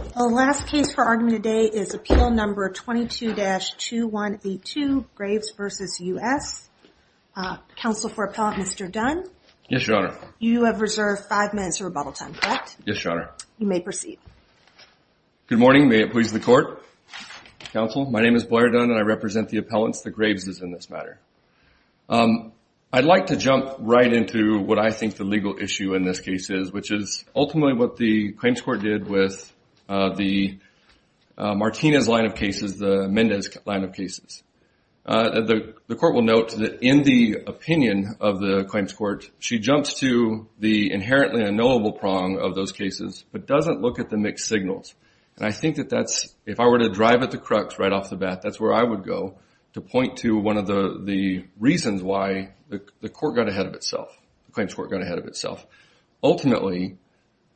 The last case for argument today is appeal number 22-2182, Graves v. U.S. Counsel for Appellant, Mr. Dunn. Yes, Your Honor. You have reserved five minutes of rebuttal time, correct? Yes, Your Honor. You may proceed. Good morning. May it please the Court? Counsel, my name is Blair Dunn and I represent the appellants, the Graveses in this matter. I'd like to jump right into what I think the legal issue in this case is, which is ultimately what the claims court did with the Martinez line of cases, the Mendez line of cases. The court will note that in the opinion of the claims court, she jumps to the inherently unknowable prong of those cases, but doesn't look at the mixed signals. And I think that that's, if I were to drive at the crux right off the bat, that's where I would go to point to one of the reasons why the court got ahead of itself, the claims court got ahead of itself. Ultimately,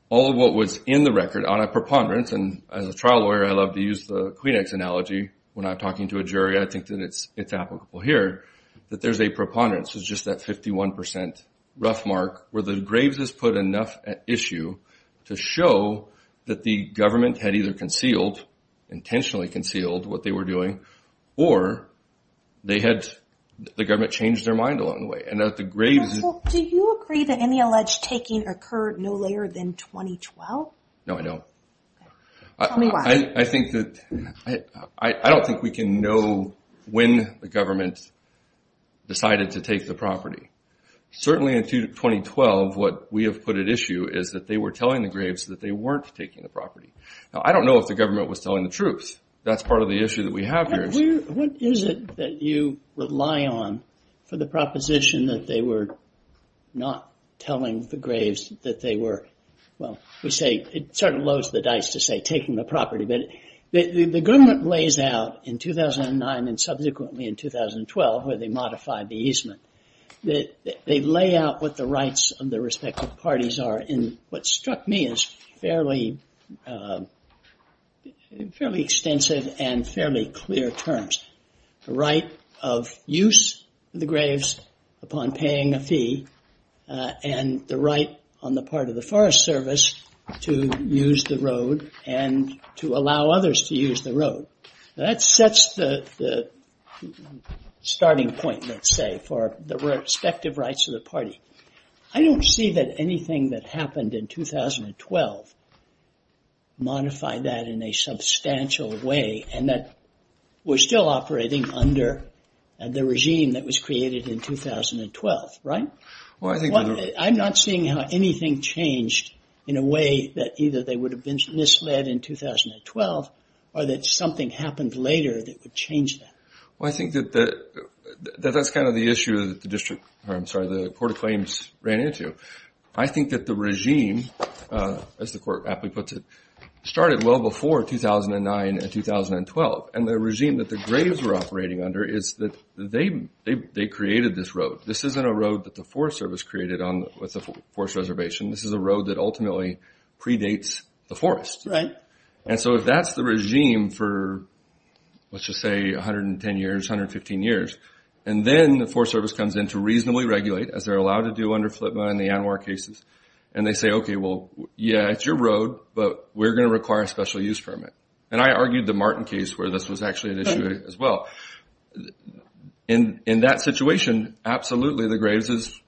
all of what was in the record on a preponderance, and as a trial lawyer I love to use the Kleenex analogy when I'm talking to a jury, I think that it's applicable here, that there's a preponderance, it's just that 51% rough mark where the Graveses put enough at issue to show that the government had either concealed, intentionally concealed what they were doing, or they had, the government changed their mind along the way. Do you agree that any alleged taking occurred no later than 2012? No, I don't. Tell me why. I don't think we can know when the government decided to take the property. Certainly in 2012, what we have put at issue is that they were telling the Graveses that they weren't taking the property. Now, I don't know if the government was telling the truth. That's part of the issue that we have here. What is it that you rely on for the proposition that they were not telling the Graveses that they were, well, we say, it sort of loads the dice to say taking the property, but the government lays out in 2009 and subsequently in 2012 where they modified the easement, that they lay out what the rights of their respective parties are, and what struck me is fairly extensive and fairly clear terms. The right of use of the Graves upon paying a fee, and the right on the part of the Forest Service to use the road, and to allow others to use the road. That sets the starting point, let's say, for the respective rights of the party. I don't see that anything that happened in 2012 modified that in a substantial way, and that we're still operating under the regime that was created in 2012, right? I'm not seeing how anything changed in a way that either they would have been misled in 2012, or that something happened later that would change that. Well, I think that that's kind of the issue that the District, I'm sorry, the Court of Claims ran into. I think that the regime, as the Court aptly puts it, started well before 2009 and 2012, and the regime that the Graves were operating under is that they created this road. This isn't a road that the Forest Service created with the Forest Reservation. This is a road that ultimately predates the forest. And so if that's the regime for, let's just say, 110 years, 115 years, and then the Forest Service comes in to reasonably regulate, as they're allowed to do under FLIPMA and the ANWR cases, and they say, OK, well, yeah, it's your road, but we're going to require a special use permit. And I argued the Martin case where this was actually an issue as well. In that situation, absolutely the Graves'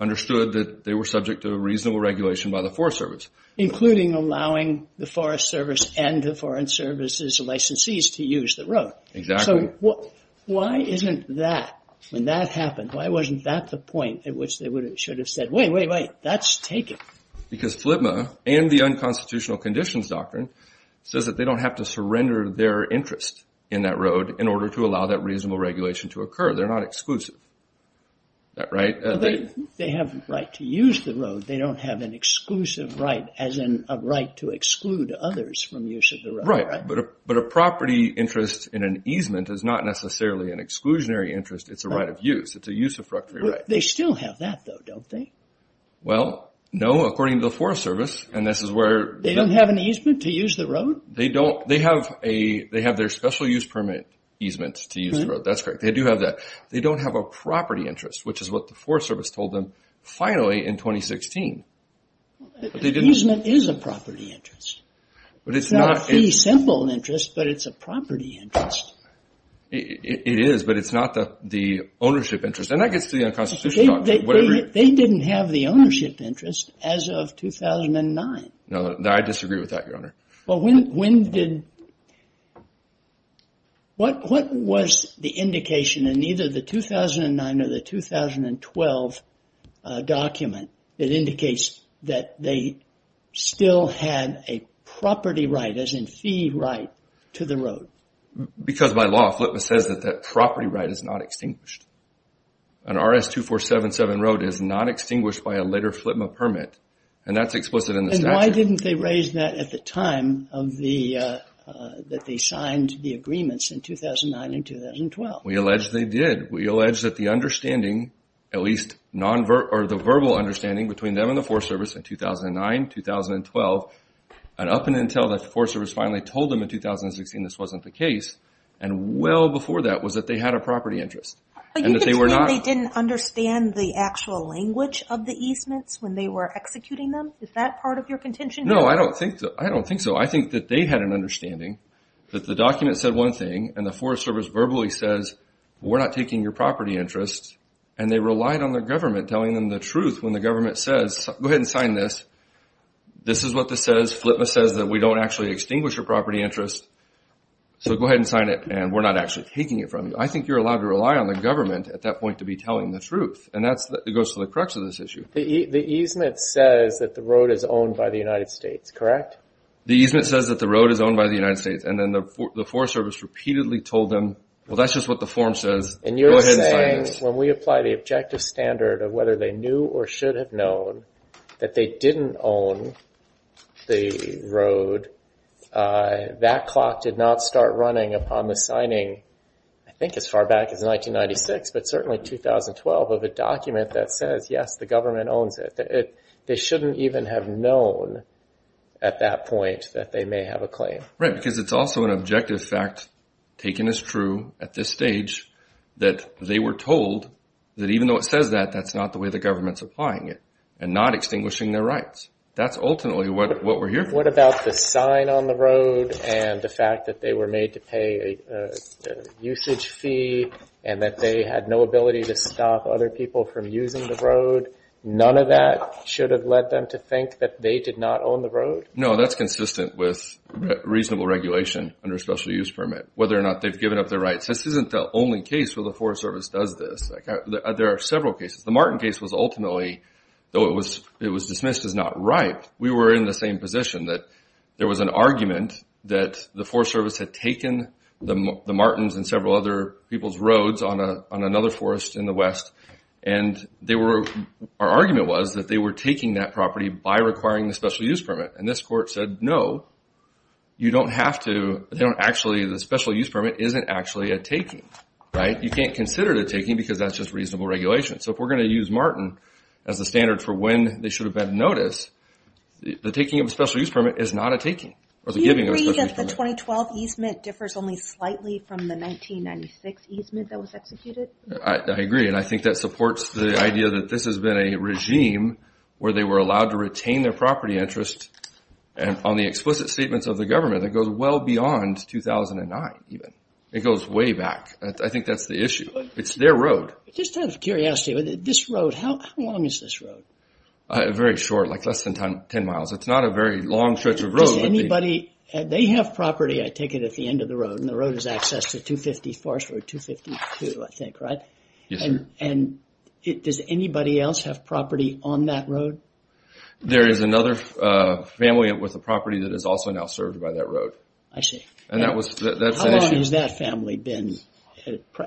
understood that they were subject to a reasonable regulation by the Forest Service. Including allowing the Forest Service and the Foreign Service's licensees to use the road. Exactly. So why isn't that, when that happened, why wasn't that the point at which they should have said, wait, wait, wait, that's taken? Because FLIPMA and the Unconstitutional Conditions Doctrine says that they don't have to surrender their interest in that road in order to allow that reasonable regulation to occur. They're not exclusive. They have the right to use the road. They don't have an exclusive right, as in a right to exclude others from use of the road, right? Right. But a property interest in an easement is not necessarily an exclusionary interest. It's a right of use. It's a use of property right. They still have that, though, don't they? Well, no, according to the Forest Service, and this is where... They don't have an easement to use the road? They don't. They have their special use permit easement to use the road. That's correct. They do have that. They don't have a property interest, which is what the Forest Service told them finally in 2016. But the easement is a property interest. It's not a fee simple interest, but it's a property interest. It is, but it's not the ownership interest. And that gets to the Unconstitutional Doctrine. They didn't have the ownership interest as of 2009. No, I disagree with that, Your Honor. Well, when did... What was the indication in either the 2009 or the 2012 document that indicates that they still had a property right, as in fee right, to the road? Because by law, FLTMA says that that property right is not extinguished. An RS-2477 road is not extinguished by a later FLTMA permit, and that's explicit in the statute. And why didn't they raise that at the time of the... 2009 and 2012? We allege they did. We allege that the understanding, at least the verbal understanding, between them and the Forest Service in 2009, 2012, and up until the Forest Service finally told them in 2016 this wasn't the case, and well before that was that they had a property interest. But you could claim they didn't understand the actual language of the easements when they were executing them? Is that part of your contention? No, I don't think so. I think that they had an understanding that the document said one thing, and the Forest Service verbally says, we're not taking your property interest, and they relied on the government telling them the truth when the government says, go ahead and sign this, this is what this says, FLTMA says that we don't actually extinguish your property interest, so go ahead and sign it and we're not actually taking it from you. I think you're allowed to rely on the government at that point to be telling the truth, and that goes to the crux of this issue. The easement says that the road is owned by the United States, correct? The easement says that the road is owned by the United States, and then the Forest Service repeatedly told them, well, that's just what the form says, go ahead and sign this. And you're saying when we apply the objective standard of whether they knew or should have known that they didn't own the road, that clock did not start running upon the signing, I think as far back as 1996, but certainly 2012, of a document that says, yes, the government owns it. They shouldn't even have known at that point that they may have a claim. Right, because it's also an objective fact, taken as true at this stage, that they were told that even though it says that, that's not the way the government's applying it and not extinguishing their rights. That's ultimately what we're hearing. What about the sign on the road and the fact that they were made to pay a usage fee and that they had no ability to stop other people from using the road? None of that should have led them to think that they did not own the road? No, that's consistent with reasonable regulation under a special use permit, whether or not they've given up their rights. This isn't the only case where the Forest Service does this. There are several cases. The Martin case was ultimately, though it was dismissed as not right, we were in the same position that there was an argument that the Forest Service had taken the Martins and several other people's roads on another forest in the west, and our argument was that they were taking that property by requiring the special use permit. And this court said, no, you don't have to. The special use permit isn't actually a taking. You can't consider it a taking because that's just reasonable regulation. So if we're going to use Martin as a standard for when they should have been noticed, the taking of a special use permit is not a taking. Do you agree that the 2012 easement differs only slightly from the 1996 easement that was executed? I agree, and I think that supports the idea that this has been a regime where they were allowed to retain their property interest. And on the explicit statements of the government, it goes well beyond 2009 even. It goes way back. I think that's the issue. It's their road. Just out of curiosity, this road, how long is this road? Very short, like less than 10 miles. It's not a very long stretch of road. Does anybody, they have property, I take it, at the end of the road, and the road has access to 250 Forest Road, 252, I think, right? Yes, sir. And does anybody else have property on that road? There is another family with a property that is also now served by that road. I see. How long has that family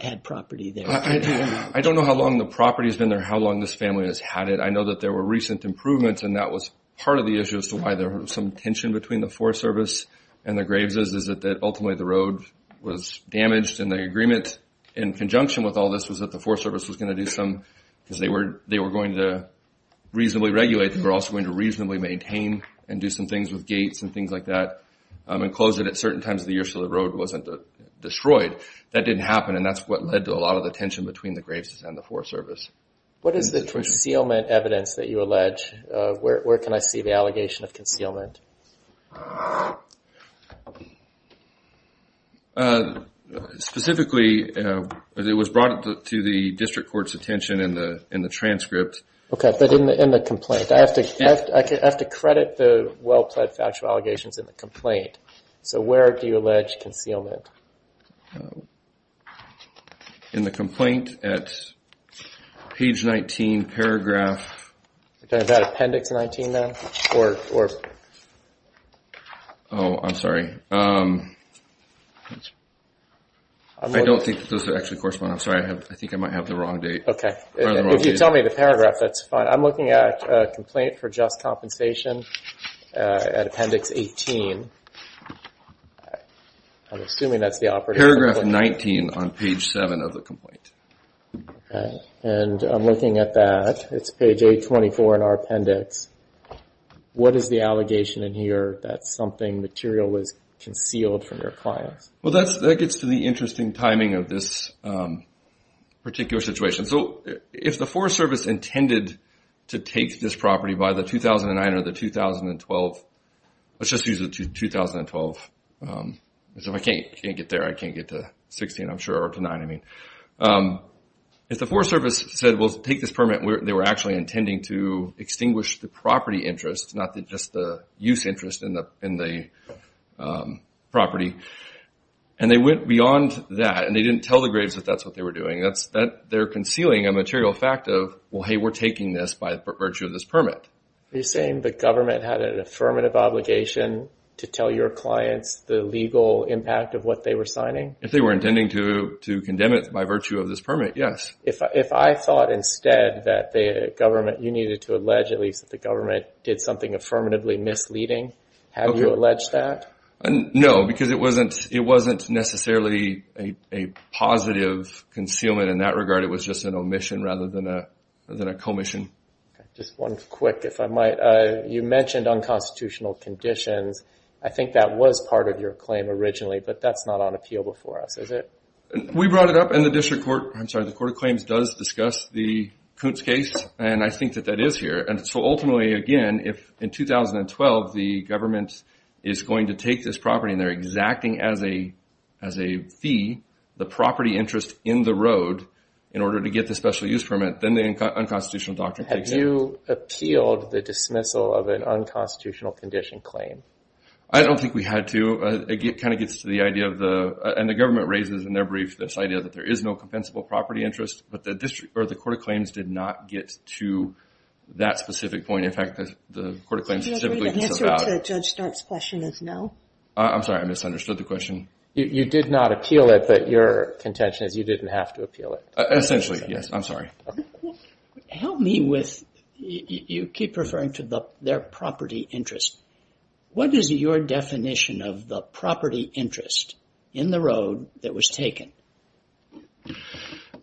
had property there? I don't know how long the property has been there, how long this family has had it. I know that there were recent improvements, and that was part of the issue as to why there was some tension between the Forest Service and the Graves' is that ultimately the road was damaged, and the agreement in conjunction with all this was that the Forest Service was going to do some, because they were going to reasonably regulate, they were also going to reasonably maintain and do some things with gates and things like that, and close it at certain times of the year so the road wasn't destroyed. That didn't happen, and that's what led to a lot of the tension between the Graves' and the Forest Service. What is the concealment evidence that you allege? Where can I see the allegation of concealment? Specifically, it was brought to the district court's attention in the transcript. Okay, but in the complaint. I have to credit the well-pledged factual allegations in the complaint. So where do you allege concealment? In the complaint at page 19, paragraph... Is that appendix 19 now? Or... Oh, I'm sorry. I don't think those are actually corresponding. I'm sorry. I think I might have the wrong date. Okay. If you tell me the paragraph, that's fine. I'm looking at a complaint for just compensation at appendix 18. I'm assuming that's the operative... Paragraph 19 on page 7 of the complaint. Okay, and I'm looking at that. It's page 824 in our appendix. What is the allegation in here that something material was concealed from your clients? Well, that gets to the interesting timing of this particular situation. So if the Forest Service intended to take this property by the 2009 or the 2012... Let's just use the 2012. If I can't get there, I can't get to 16, I'm sure, or to 9, I mean. If the Forest Service said, well, take this permit, they were actually intending to extinguish the property interest, not just the use interest in the property, and they went beyond that and they didn't tell the Graves that that's what they were doing. They're concealing a material fact of, well, hey, we're taking this by virtue of this permit. Are you saying the government had an affirmative obligation to tell your clients the legal impact of what they were signing? If they were intending to condemn it by virtue of this permit, yes. If I thought instead that you needed to allege, at least, that the government did something affirmatively misleading, have you alleged that? No, because it wasn't necessarily a positive concealment in that regard. It was just an omission rather than a commission. Just one quick, if I might. You mentioned unconstitutional conditions. I think that was part of your claim originally, but that's not on appeal before us, is it? We brought it up in the district court. I'm sorry, the Court of Claims does discuss the Koontz case, and I think that that is here. So ultimately, again, if in 2012 the government is going to take this property and they're exacting as a fee the property interest in the road in order to get the special use permit, then the unconstitutional doctrine takes it. Have you appealed the dismissal of an unconstitutional condition claim? I don't think we had to. It kind of gets to the idea, and the government raises in their brief, this idea that there is no compensable property interest, but the Court of Claims did not get to that specific point. In fact, the Court of Claims specifically concerned about it. The answer to Judge Start's question is no. I'm sorry, I misunderstood the question. You did not appeal it, but your contention is you didn't have to appeal it. Essentially, yes. I'm sorry. Help me with, you keep referring to their property interest. What is your definition of the property interest in the road that was taken?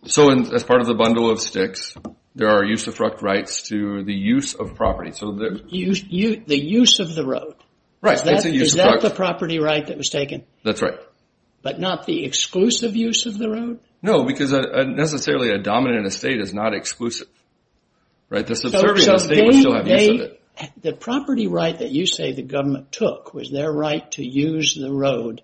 So as part of the bundle of sticks, there are use of fruct rights to the use of property. The use of the road. Right. Is that the property right that was taken? That's right. But not the exclusive use of the road? No, because necessarily a dominant estate is not exclusive. Right? The property right that you say the government took was their right to use the road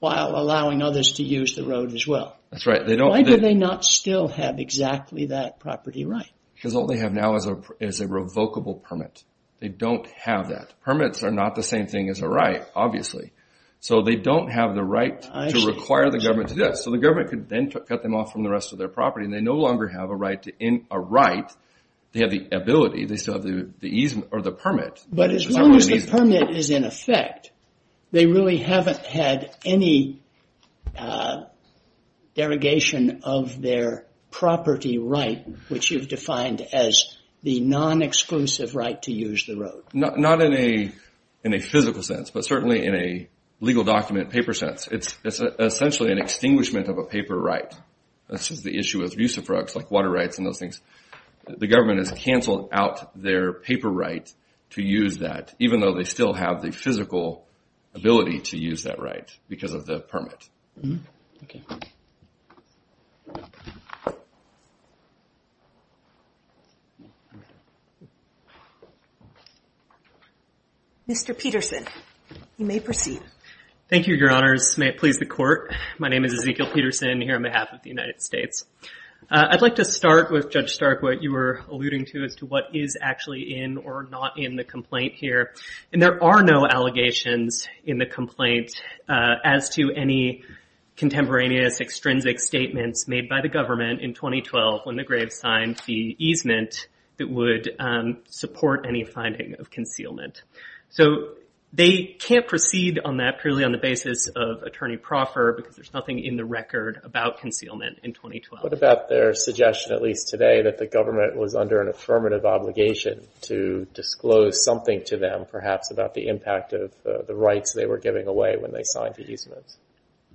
while allowing others to use the road as well. That's right. Why do they not still have exactly that property right? Because all they have now is a revocable permit. They don't have that. Permits are not the same thing as a right, obviously. So they don't have the right to require the government to do that. So the government could then cut them off from the rest of their property, and they no longer have a right. They have the ability, they still have the permit. But as long as the permit is in effect, they really haven't had any derogation of their property right, which you've defined as the non-exclusive right to use the road. Not in a physical sense, but certainly in a legal document paper sense. It's essentially an extinguishment of a paper right. This is the issue with rucifructs like water rights and those things. The government has canceled out their paper right to use that, even though they still have the physical ability to use that right because of the permit. Okay. Mr. Peterson, you may proceed. Thank you, Your Honors. May it please the Court. My name is Ezekiel Peterson here on behalf of the United States. I'd like to start with Judge Stark, what you were alluding to, as to what is actually in or not in the complaint here. And there are no allegations in the complaint as to any contemporaneous extrinsic statements made by the government in 2012 when the grave signed the easement that would support any finding of concealment. So they can't proceed on that purely on the basis of attorney proffer because there's nothing in the record about concealment in 2012. What about their suggestion, at least today, that the government was under an affirmative obligation to disclose something to them, perhaps, about the impact of the rights they were giving away when they signed the easement?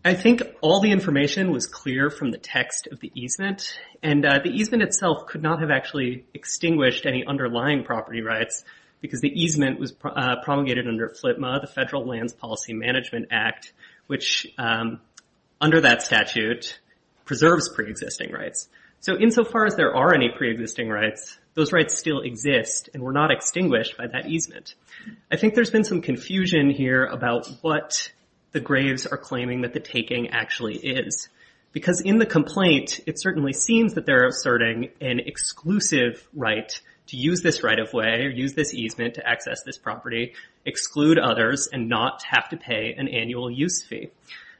I think all the information was clear from the text of the easement. And the easement itself could not have actually extinguished any underlying property rights because the easement was promulgated under FLTMA, the Federal Lands Policy Management Act, which under that statute preserves preexisting rights. So insofar as there are any preexisting rights, those rights still exist and were not extinguished by that easement. I think there's been some confusion here about what the graves are claiming that the taking actually is because in the complaint it certainly seems that they're asserting an exclusive right to use this right-of-way or use this easement to access this property, exclude others, and not have to pay an annual use fee.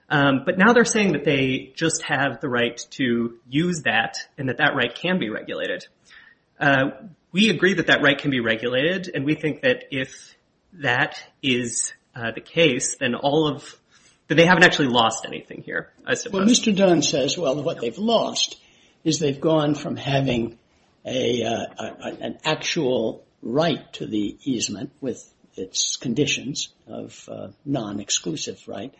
But now they're saying that they just have the right to use that and that that right can be regulated. We agree that that right can be regulated, and we think that if that is the case, then they haven't actually lost anything here, I suppose. Well, Mr. Dunn says, well, what they've lost is they've gone from having an actual right to the easement with its conditions of non-exclusive right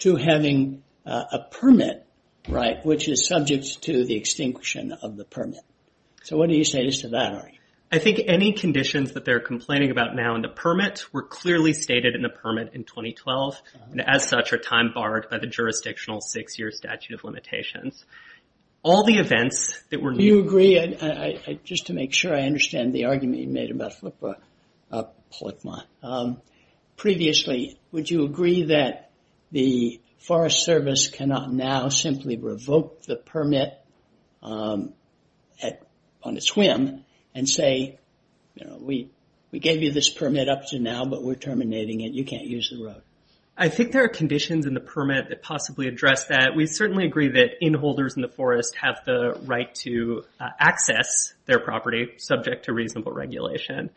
to having a permit right, which is subject to the extinction of the permit. So what do you say to that, Ari? I think any conditions that they're complaining about now in the permit were clearly stated in the permit in 2012 and as such are time barred by the jurisdictional six-year statute of limitations. All the events that were... Do you agree, just to make sure I understand the argument you made about Flipma, previously, would you agree that the Forest Service cannot now simply revoke the permit on its whim and say, we gave you this permit up to now, but we're terminating it, you can't use the road? I think there are conditions in the permit that possibly address that. We certainly agree that inholders in the forest have the right to access their property subject to reasonable regulation.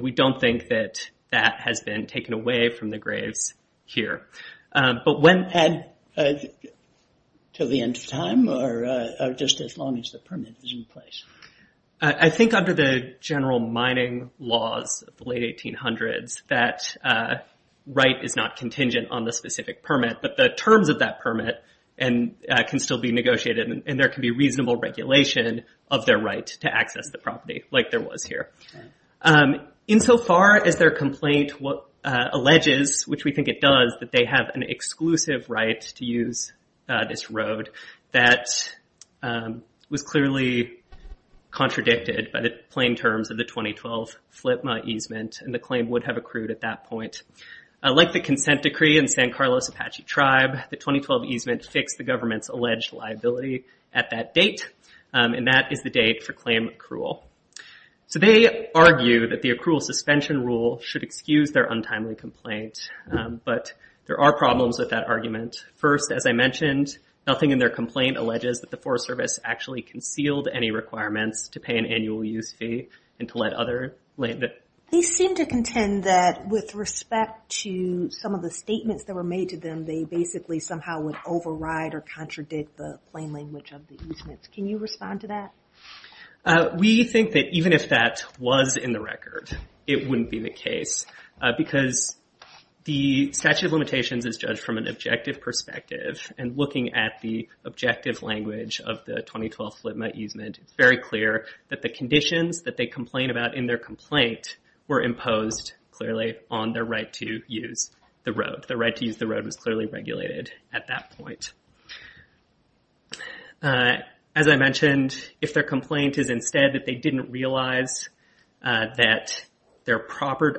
We don't think that that has been taken away from the graves here. But when... Add to the end of time, or just as long as the permit is in place? I think under the general mining laws of the late 1800s that right is not contingent on the specific permit, but the terms of that permit can still be negotiated like there was here. Insofar as their complaint alleges, which we think it does, that they have an exclusive right to use this road, that was clearly contradicted by the plain terms of the 2012 Flipma easement, and the claim would have accrued at that point. Like the consent decree in San Carlos Apache Tribe, the 2012 easement fixed the government's alleged liability at that date, and that is the date for claim accrual. So they argue that the accrual suspension rule should excuse their untimely complaint, but there are problems with that argument. First, as I mentioned, nothing in their complaint alleges that the Forest Service actually concealed any requirements to pay an annual use fee and to let other land... They seem to contend that with respect to some of the statements that were made to them, they basically somehow would override or contradict the plain language of the easements. Can you respond to that? We think that even if that was in the record, it wouldn't be the case, because the statute of limitations is judged from an objective perspective, and looking at the objective language of the 2012 Flipma easement, it's very clear that the conditions that they complain about in their complaint were imposed clearly on their right to use the road. The right to use the road was clearly regulated at that point. As I mentioned, if their complaint is instead that they didn't realize that their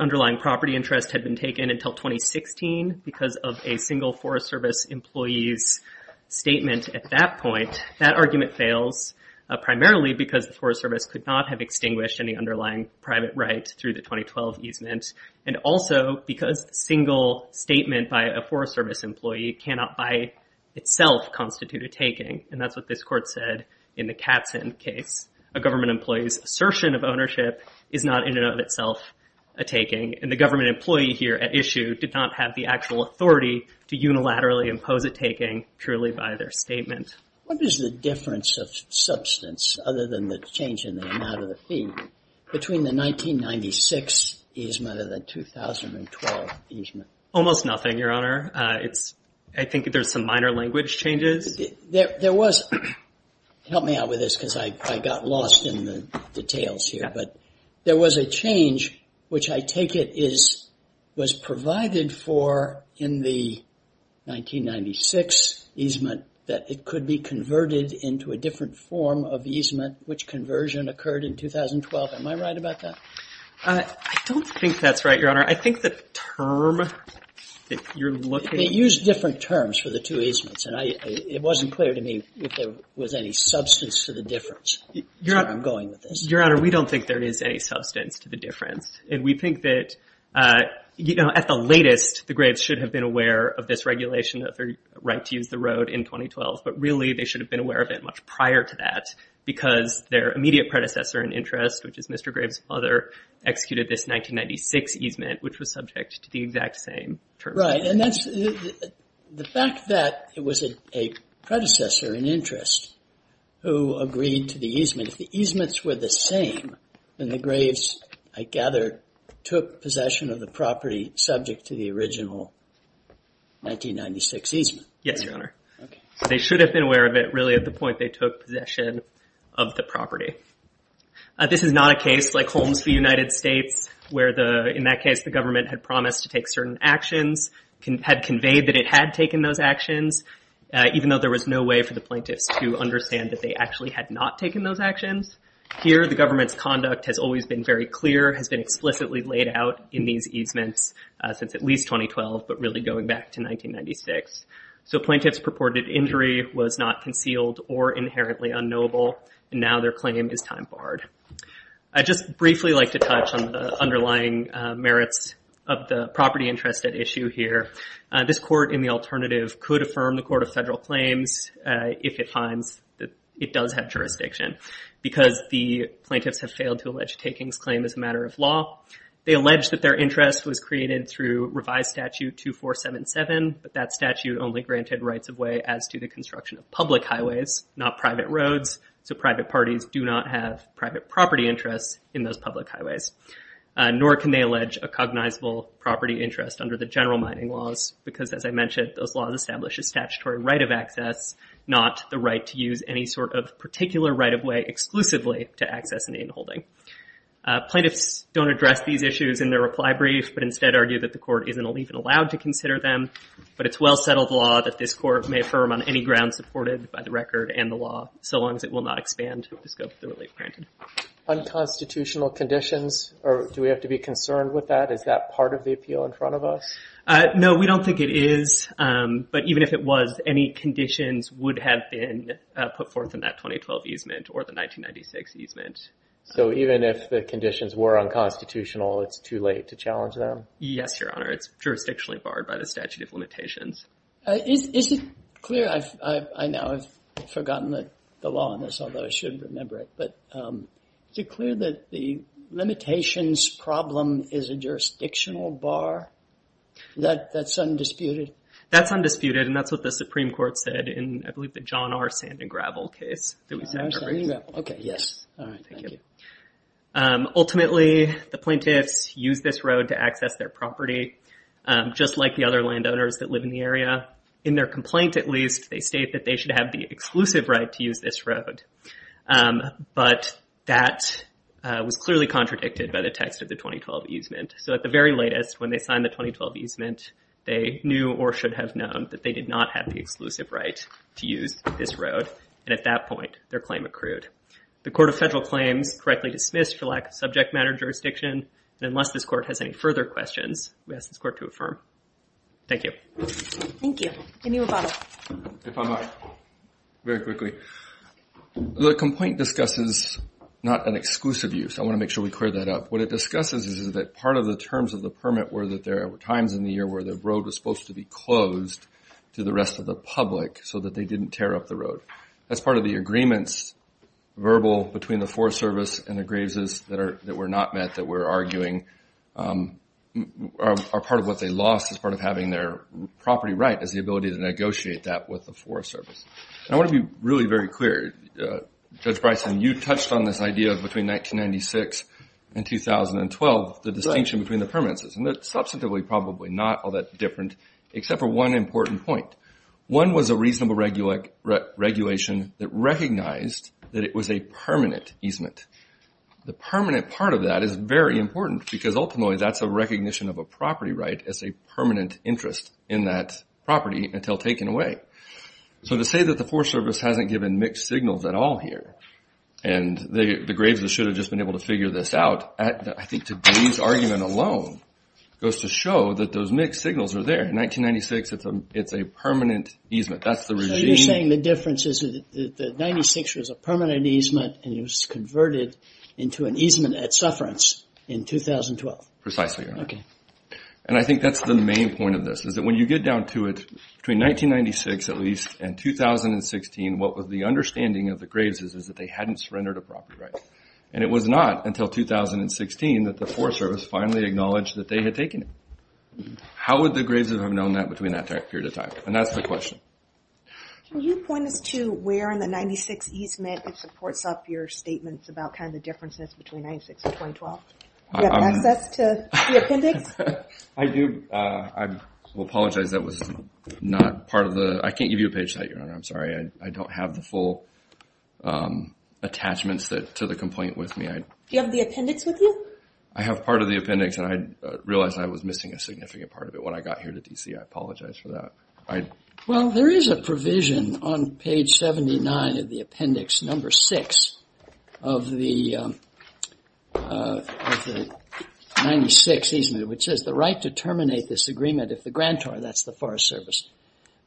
underlying property interest had been taken until 2016 because of a single Forest Service employee's statement at that point, that argument fails primarily because the Forest Service could not have extinguished any underlying private right through the 2012 easement, and also because a single statement by a Forest Service employee cannot by itself constitute a taking, and that's what this court said in the Katzen case. A government employee's assertion of ownership is not in and of itself a taking, and the government employee here at issue did not have the actual authority to unilaterally impose a taking truly by their statement. What is the difference of substance, other than the change in the amount of the fee, between the 1996 easement and the 2012 easement? Almost nothing, Your Honor. I think there's some minor language changes. There was... Help me out with this because I got lost in the details here, but there was a change, which I take it was provided for in the 1996 easement that it could be converted into a different form of easement, which conversion occurred in 2012. Am I right about that? I don't think that's right, Your Honor. I think the term that you're looking... They used different terms for the two easements, and it wasn't clear to me if there was any substance to the difference. Your Honor, we don't think there is any substance to the difference, and we think that, you know, at the latest, the Graves should have been aware of this regulation, of their right to use the road in 2012, but really they should have been aware of it much prior to that because their immediate predecessor in interest, which is Mr. Graves' father, executed this 1996 easement, which was subject to the exact same terms. Right, and that's... The fact that it was a predecessor in interest who agreed to the easement, if the easements were the same, then the Graves, I gather, took possession of the property subject to the original 1996 easement. Yes, Your Honor. They should have been aware of it really at the point they took possession of the property. This is not a case like Holmes v. United States where, in that case, the government had promised to take certain actions, had conveyed that it had taken those actions, even though there was no way for the plaintiffs to understand that they actually had not taken those actions. Here, the government's conduct has always been very clear, has been explicitly laid out in these easements since at least 2012, but really going back to 1996. So plaintiff's purported injury was not concealed or inherently unknowable, and now their claim is time-barred. I'd just briefly like to touch on the underlying merits of the property interest at issue here. This Court, in the alternative, could affirm the Court of Federal Claims if it finds that it does have jurisdiction, because the plaintiffs have failed to allege Takings' claim as a matter of law. They allege that their interest was created through Revised Statute 2477, but that statute only granted rights-of-way as to the construction of public highways, not private roads, so private parties do not have private property interests in those public highways. Nor can they allege a cognizable property interest under the general mining laws, because, as I mentioned, those laws establish a statutory right of access, not the right to use any sort of particular right-of-way exclusively to access an inholding. Plaintiffs don't address these issues in their reply brief, but instead argue that the Court isn't even allowed to consider them, but it's well-settled law that this Court may affirm on any ground supported by the record and the law, so long as it will not expand the scope of the relief granted. Unconstitutional conditions? Do we have to be concerned with that? Is that part of the appeal in front of us? No, we don't think it is, but even if it was, any conditions would have been put forth in that 2012 easement or the 1996 easement. So even if the conditions were unconstitutional, it's too late to challenge them? Yes, Your Honor, it's jurisdictionally barred by the statute of limitations. Is it clear, I know I've forgotten the law on this, although I should remember it, but is it clear that the limitations problem is a jurisdictional bar? That's undisputed? That's undisputed, and that's what the Supreme Court said in, I believe, the John R. Sand and Gravel case. John R. Sand and Gravel, okay, yes. Thank you. Ultimately, the plaintiffs used this road to access their property, just like the other landowners that live in the area. In their complaint, at least, they state that they should have the exclusive right to use this road, but that was clearly contradicted by the text of the 2012 easement. So at the very latest, when they signed the 2012 easement, they knew or should have known that they did not have the exclusive right to use this road, and at that point, their claim accrued. The Court of Federal Claims correctly dismissed for lack of subject matter jurisdiction, and unless this Court has any further questions, we ask this Court to affirm. Thank you. Thank you. Any rebuttal? If I might, very quickly. The complaint discusses not an exclusive use. I want to make sure we clear that up. What it discusses is that part of the terms of the permit were that there were times in the year to the rest of the public so that they didn't tear up the road. That's part of the agreements, verbal, between the Forest Service and the Graves' that were not met, that we're arguing are part of what they lost as part of having their property right is the ability to negotiate that with the Forest Service. And I want to be really very clear. Judge Bryson, you touched on this idea of between 1996 and 2012, the distinction between the permits, and they're substantively probably not all that different, except for one important point. One was a reasonable regulation that recognized that it was a permanent easement. The permanent part of that is very important because ultimately that's a recognition of a property right as a permanent interest in that property until taken away. So to say that the Forest Service hasn't given mixed signals at all here, and the Graves' should have just been able to figure this out, I think today's argument alone goes to show that those mixed signals are there. In 1996, it's a permanent easement. So you're saying the difference is that 1996 was a permanent easement and it was converted into an easement at Sufferance in 2012. Precisely, Your Honor. And I think that's the main point of this, is that when you get down to it, between 1996 at least and 2016, what was the understanding of the Graves' is that they hadn't surrendered a property right. And it was not until 2016 that the Forest Service finally acknowledged that they had taken it. How would the Graves' have known that between that period of time? And that's the question. Can you point us to where in the 1996 easement supports up your statements about the differences between 1996 and 2012? Do you have access to the appendix? I do. I will apologize that was not part of the... I can't give you a page site, Your Honor. I'm sorry. I don't have the full attachments to the complaint with me. Do you have the appendix with you? I have part of the appendix, and I realized I was missing a significant part of it when I got here to D.C. I apologize for that. Well, there is a provision on page 79 of the appendix, number 6 of the 96 easement which says the right to terminate this agreement if the grantor, that's the Forest Service,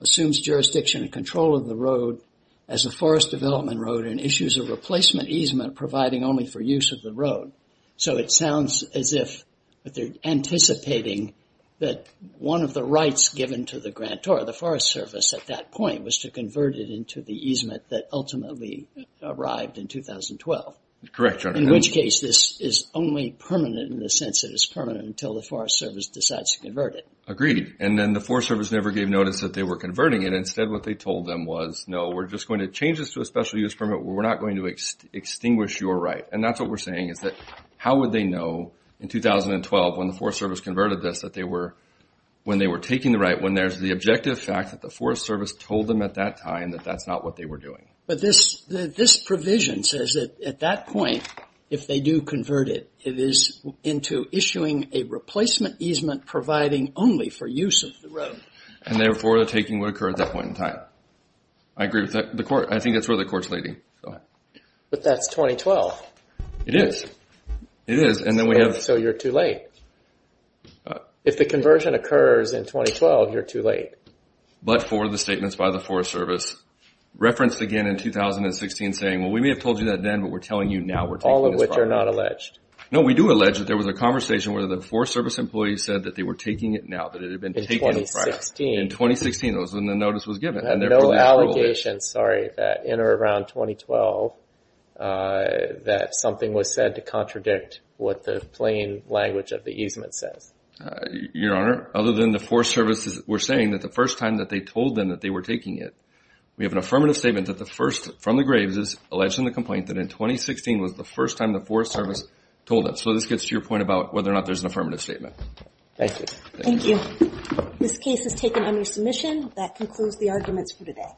assumes jurisdiction and control of the road as a forest development road and issues a replacement easement providing only for use of the road. So it sounds as if they're anticipating that one of the rights given to the grantor, the Forest Service, at that point was to convert it into the easement that ultimately arrived in 2012. Correct, Your Honor. In which case, this is only permanent in the sense that it's permanent until the Forest Service decides to convert it. Agreed. And then the Forest Service never gave notice that they were converting it. Instead, what they told them was no, we're just going to change this to a special use permit. We're not going to extinguish your right. And that's what we're saying is that how would they know in 2012 when the Forest Service converted this that they were when they were taking the right when there's the objective fact that the Forest Service told them at that time that that's not what they were doing. But this provision says that at that point if they do convert it, it is into issuing a replacement easement providing only for use of the road. And therefore they're taking what occurred at that point in time. I agree with that. I think that's where the Court's leading. Go ahead. But that's 2012. It is. So you're too late. If the conversion occurs in 2012, you're too late. But for the statements by the Forest Service referenced again in 2016 saying, well, we may have told you that then, but we're telling you now we're taking this. All of which are not alleged. No, we do allege that there was a conversation where the Forest Service employees said that they were taking it now, that it had been taken in 2016. In 2016, that was when the notice was given. No allegations, sorry, that in or around 2012 that something was said to contradict what the plain language of the easement says. Your Honor, other than the Forest Service were saying that the first time that they told them that they were taking it, we have an affirmative statement that the first from the Graves' alleging the complaint that in 2016 was the first time the Forest Service told them. So this gets to your point about whether or not there's an affirmative statement. Thank you. Thank you. This case is taken under submission. That concludes the arguments for today.